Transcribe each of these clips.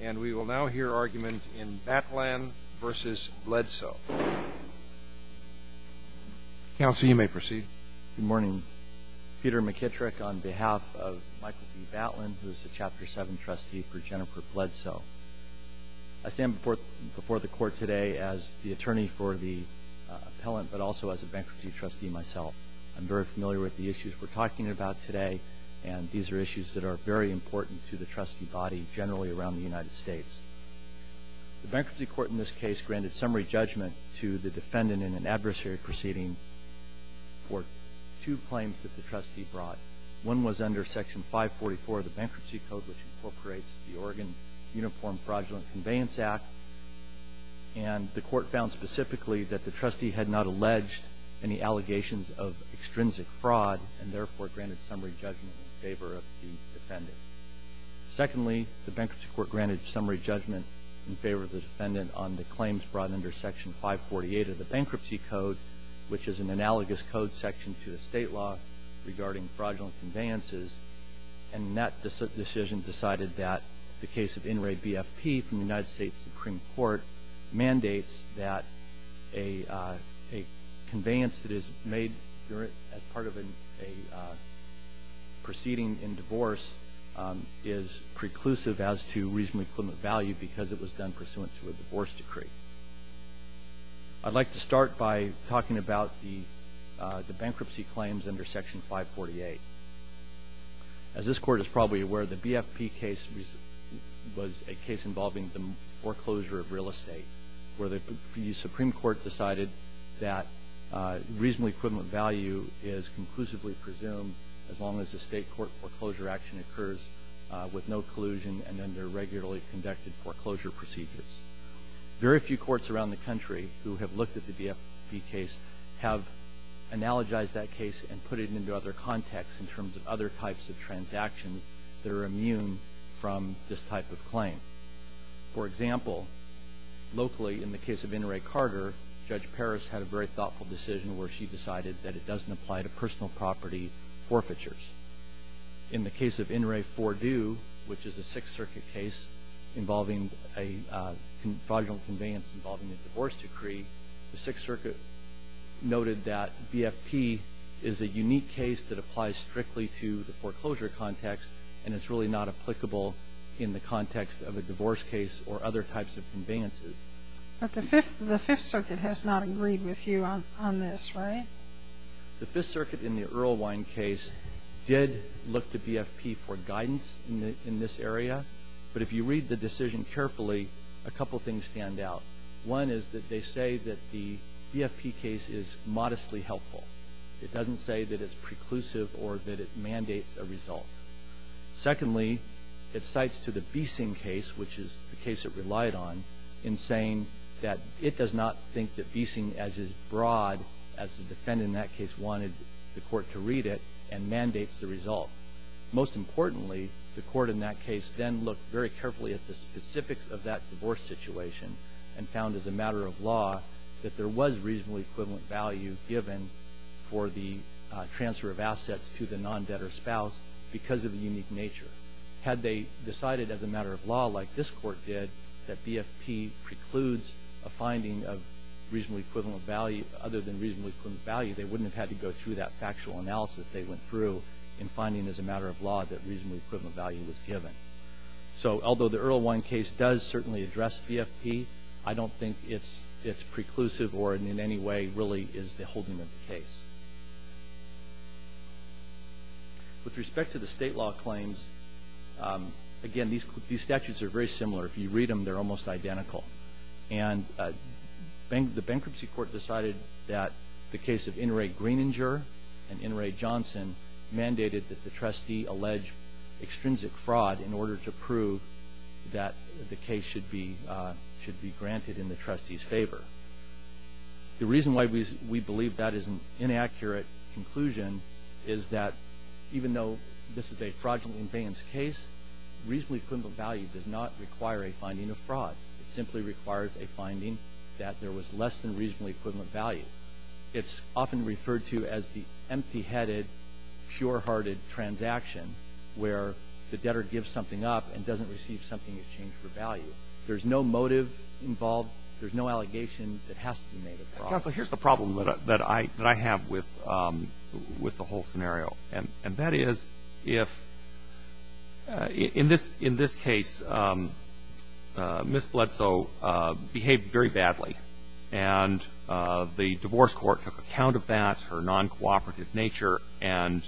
And we will now hear argument in Batlan v. Bledsoe. Counsel, you may proceed. Good morning. Peter McKittrick on behalf of Michael B. Batlan, who is the Chapter 7 trustee for Jennifer Bledsoe. I stand before the court today as the attorney for the appellant, but also as a bankruptcy trustee myself. I'm very familiar with the issues we're talking about today. And these are issues that are very important to the trustee body generally around the United States. The bankruptcy court in this case granted summary judgment to the defendant in an adversary proceeding for two claims that the trustee brought. One was under section 544 of the bankruptcy code, which incorporates the Oregon Uniform Fraudulent Conveyance Act. And the court found specifically that the trustee had not alleged any allegations of extrinsic fraud and therefore granted summary judgment in favor of the defendant. Secondly, the bankruptcy court granted summary judgment in favor of the defendant on the claims brought under section 548 of the bankruptcy code, which is an analogous code section to the state law regarding fraudulent conveyances. And that decision decided that the case of in-rate BFP from the United States Supreme Court mandates that a conveyance that is made as part of a proceeding in divorce is preclusive as to reasonable equivalent value because it was done pursuant to a divorce decree. I'd like to start by talking about the bankruptcy claims under section 548. As this court is probably aware, the BFP case was a case involving the foreclosure of real estate, where the Supreme Court decided that reasonable estate court foreclosure action occurs with no collusion and under regularly conducted foreclosure procedures. Very few courts around the country who have looked at the BFP case have analogized that case and put it into other contexts in terms of other types of transactions that are immune from this type of claim. For example, locally in the case of Inouye Carter, Judge Paris had a very thoughtful decision where she decided that it doesn't apply to personal property forfeitures. In the case of Inouye Fordue, which is a Sixth Circuit case involving a fraudulent conveyance involving a divorce decree, the Sixth Circuit noted that BFP is a unique case that applies strictly to the foreclosure context, and it's really not applicable in the context of a divorce case or other types of conveyances. But the Fifth Circuit has not agreed with you on this, right? The Fifth Circuit in the Earlwine case did look to BFP for guidance in this area, but if you read the decision carefully, a couple of things stand out. One is that they say that the BFP case is modestly helpful. It doesn't say that it's preclusive or that it mandates a result. Secondly, it cites to the Beesing case, which is the case it relied on, in saying that it does not think that Beesing, as is broad, as the defendant in that case wanted the court to read it, and mandates the result. Most importantly, the court in that case then looked very carefully at the specifics of that divorce situation and found, as a matter of law, that there was reasonably equivalent value given for the transfer of assets to the non-debtor spouse because of the unique nature. Had they decided, as a matter of law, like this court did, that BFP precludes a finding of reasonably equivalent value, other than reasonably equivalent value, they wouldn't have had to go through that factual analysis they went through in finding, as a matter of law, that reasonably equivalent value was given. So, although the Earlwine case does certainly address BFP, I don't think it's preclusive or, in any way, really is the holding of the case. With respect to the state law claims, again, these statutes are very similar. If you read them, they're almost identical. And the bankruptcy court decided that the case of Inouye Greeninger and Inouye Johnson mandated that the trustee allege extrinsic fraud in order to prove that the case should be granted in the trustee's favor. The reason why we believe that is an inaccurate conclusion is that, even though this is a fraudulent invalence case, reasonably equivalent value does not require a finding of fraud. It simply requires a finding that there was less than reasonably equivalent value. It's often referred to as the empty-headed, pure-hearted transaction where the debtor gives something up and doesn't receive something in exchange for value. There's no motive involved. There's no allegation that has to be made of fraud. Counsel, here's the problem that I have with the whole scenario. And that is if, in this case, Ms. Bledsoe behaved very badly, and the divorce court took account of that, her non-cooperative nature, and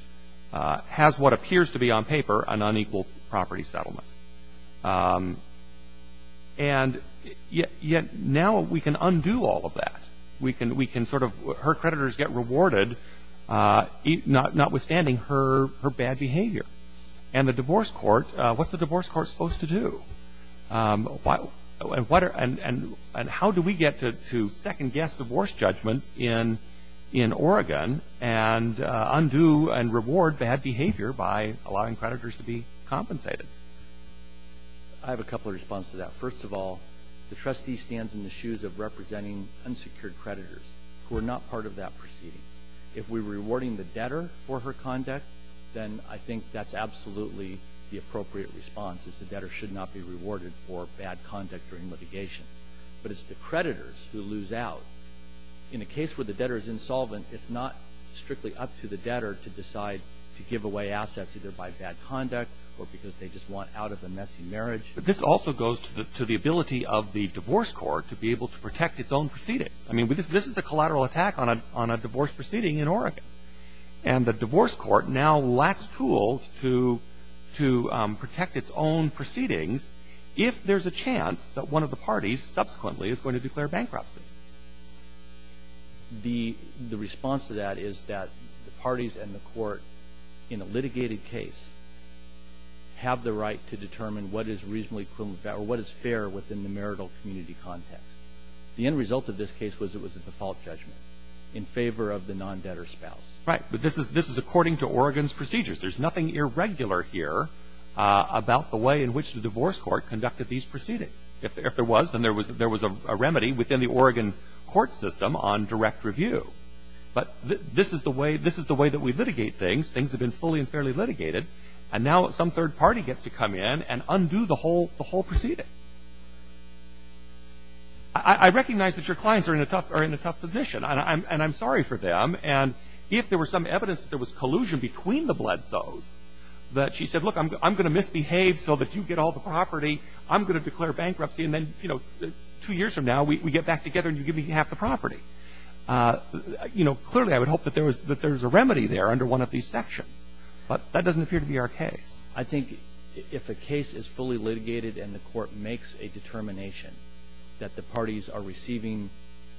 has what appears to be on paper an unequal property settlement. And yet, now we can undo all of that. We can sort of, her creditors get rewarded, notwithstanding her bad behavior. And the divorce court, what's the divorce court supposed to do? And how do we get to second-guess divorce judgments in Oregon and undo and reward bad behavior by allowing creditors to be compensated? I have a couple of responses to that. First of all, the trustee stands in the shoes of representing unsecured creditors who are not part of that proceeding. If we're rewarding the debtor for her conduct, then I think that's absolutely the appropriate response, is the debtor should not be rewarded for bad conduct during litigation. But it's the creditors who lose out. In a case where the debtor is insolvent, it's not strictly up to the debtor to decide to give away assets either by bad conduct or because they just want out of a messy marriage. But this also goes to the ability of the divorce court to be able to protect its own proceedings. I mean, this is a collateral attack on a divorce proceeding in Oregon. And the divorce court now lacks tools to protect its own proceedings if there's a chance that one of the parties subsequently is going to declare bankruptcy. The response to that is that the parties and the court in a litigated case have the right to determine what is reasonably equivalent or what is fair within the marital community context. The end result of this case was it was a default judgment in favor of the non-debtor spouse. Right. But this is according to Oregon's procedures. There's nothing irregular here about the way in which the divorce court If there was, then there was a remedy within the Oregon case. There was a remedy within the Oregon court system on direct review. But this is the way that we litigate things. Things have been fully and fairly litigated. And now some third party gets to come in and undo the whole proceeding. I recognize that your clients are in a tough position. And I'm sorry for them. And if there were some evidence that there was collusion between the Bledsos that she said, look, I'm going to misbehave so that you get all the property. I'm going to declare bankruptcy. And then two years from now, we get back together and you give me half the property. Clearly, I would hope that there was a remedy there under one of these sections. But that doesn't appear to be our case. I think if a case is fully litigated and the court makes a determination that the parties are receiving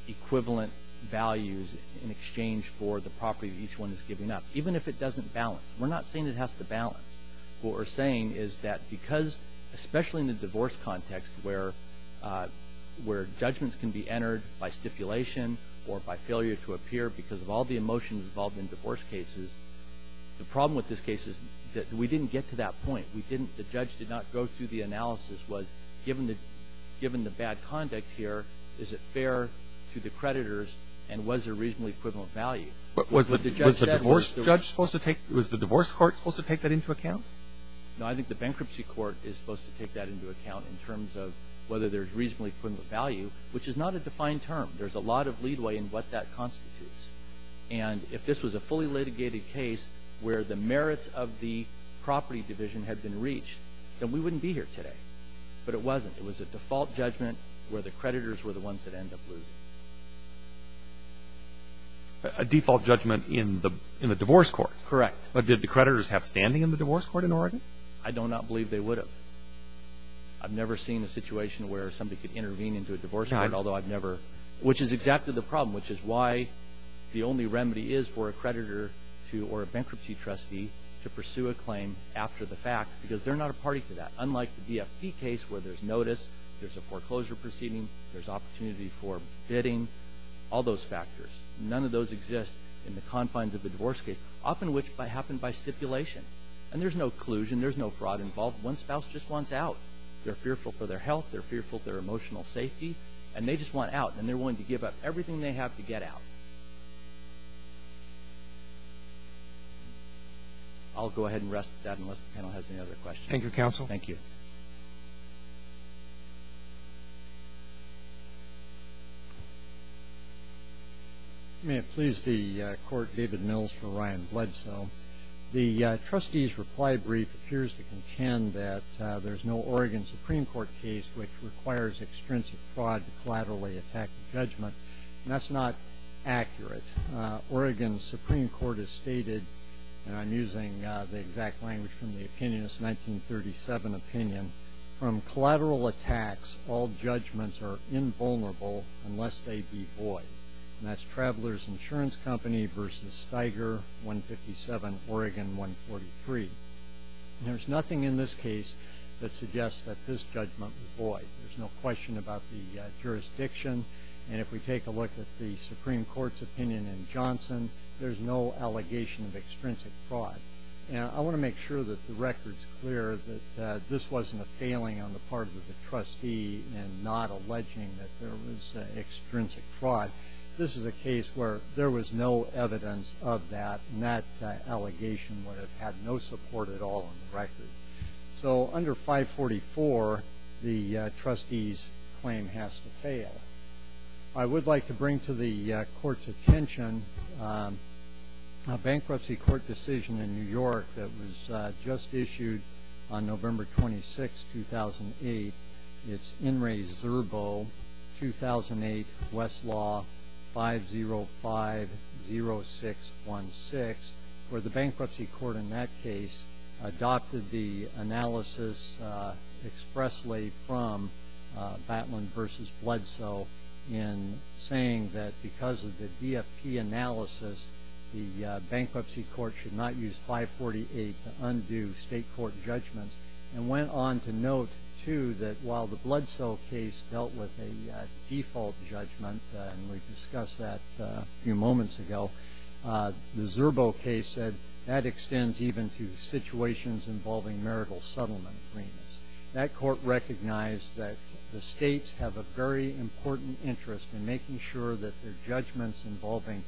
equivalent values in exchange for the property that each one is giving up, even if it doesn't balance. We're not saying it has to balance. What we're saying is that because especially in the divorce context where judgments can be entered by stipulation or by failure to appear because of all the emotions involved in divorce cases, the problem with this case is that we didn't get to that point. The judge did not go through the analysis. Given the bad conduct here, is it fair to the creditors and was there reasonably equivalent value? Was the divorce court supposed to take that into account? No, I think the bankruptcy court is supposed to take that into account in terms of whether there's reasonably equivalent value, which is not a defined term. There's a lot of lead way in what that constitutes. And if this was a fully litigated case where the merits of the property division had been reached, then we wouldn't be here today. But it wasn't. It was a default judgment where the creditors were the ones that ended up losing. A default judgment in the divorce court? Correct. But did the creditors have standing in the divorce court in Oregon? I do not believe they would have. I've never seen a situation where somebody could intervene into a divorce court, which is exactly the problem, which is why the only remedy is for a creditor or a bankruptcy trustee to pursue a claim after the fact because they're not a party to that. Unlike the DFP case where there's notice, there's a foreclosure proceeding, there's opportunity for bidding, all those factors. None of those exist in the confines of the divorce case. Often which happen by stipulation. And there's no collusion. There's no fraud involved. One spouse just wants out. They're fearful for their health. They're fearful for their emotional safety. And they just want out. And they're willing to give up everything they have to get out. I'll go ahead and rest at that unless the panel has any other questions. Thank you, counsel. Thank you. May it please the court, David Mills for Ryan Bledsoe. The trustee's reply brief appears to contend that there's no Oregon Supreme Court case which requires extrinsic fraud to collaterally attack judgment. And that's not accurate. Oregon's Supreme Court has stated, and I'm using the exact language from the 157 opinion, from collateral attacks, all judgments are invulnerable unless they be void. And that's Traveler's Insurance Company v. Steiger, 157, Oregon 143. There's nothing in this case that suggests that this judgment be void. There's no question about the jurisdiction. And if we take a look at the Supreme Court's opinion in Johnson, there's no allegation of extrinsic fraud. I want to make sure that the record's clear that this wasn't a failing on the part of the trustee and not alleging that there was extrinsic fraud. This is a case where there was no evidence of that, and that allegation would have had no support at all on the record. So under 544, the trustee's claim has to fail. I would like to bring to the Court's attention a bankruptcy court decision in New York that was just issued on November 26, 2008. It's In Re Zerbo, 2008, Westlaw, 5050616, where the bankruptcy court in that case adopted the analysis expressly from Flatland v. Blood Cell in saying that because of the DFP analysis, the bankruptcy court should not use 548 to undo state court judgments, and went on to note, too, that while the Blood Cell case dealt with a default judgment, and we discussed that a few moments ago, the Zerbo case said that extends even to situations involving marital settlement agreements. That court recognized that the states have a very important interest in making sure that their judgments involving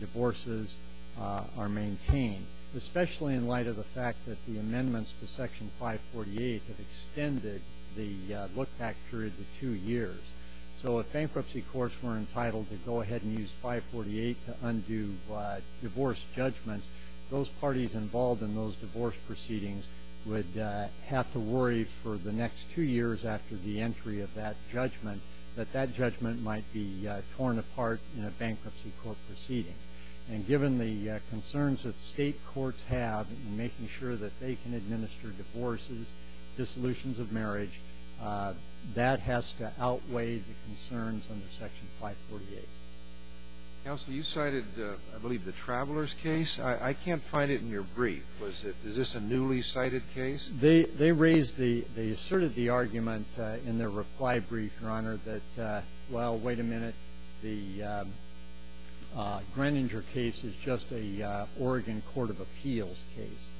divorces are maintained, especially in light of the fact that the amendments to Section 548 have extended the look-back period to two years. So if bankruptcy courts were entitled to go ahead and use 548 to undo divorce judgments, those parties involved in those divorce proceedings would have to worry for the next two years after the entry of that judgment that that judgment might be torn apart in a bankruptcy court proceeding. And given the concerns that state courts have in making sure that they can administer divorces, dissolutions of marriage, that has to outweigh the concerns under Section 548. Counsel, you cited, I believe, the Travelers case. I can't find it in your brief. Is this a newly cited case? They raised the – they asserted the argument in their reply brief, Your Honor, that, well, wait a minute, the Greeninger case is just a Oregon court of appeals case,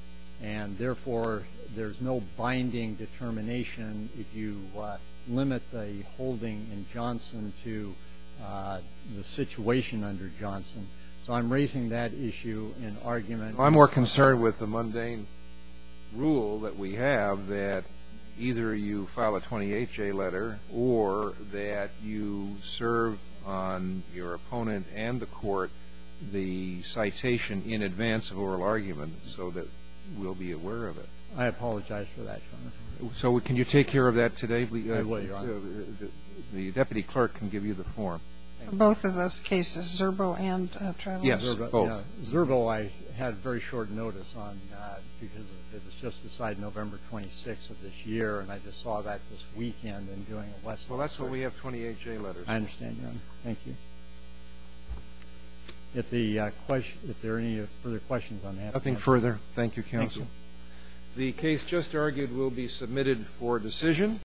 and therefore there's no binding determination if you limit the holding in the situation under Johnson. So I'm raising that issue in argument. I'm more concerned with the mundane rule that we have that either you file a 28-J letter or that you serve on your opponent and the court the citation in advance of oral argument so that we'll be aware of it. I apologize for that, Your Honor. So can you take care of that today? I will, Your Honor. The deputy clerk can give you the form. Both of those cases, Zerbo and Travelers? Yes, both. Zerbo I had very short notice on because it was just beside November 26th of this year, and I just saw that this weekend and doing a lesson. Well, that's why we have 28-J letters. I understand, Your Honor. Thank you. If there are any further questions on that. Nothing further. Thank you, counsel. Thank you. The case just argued will be submitted for decision.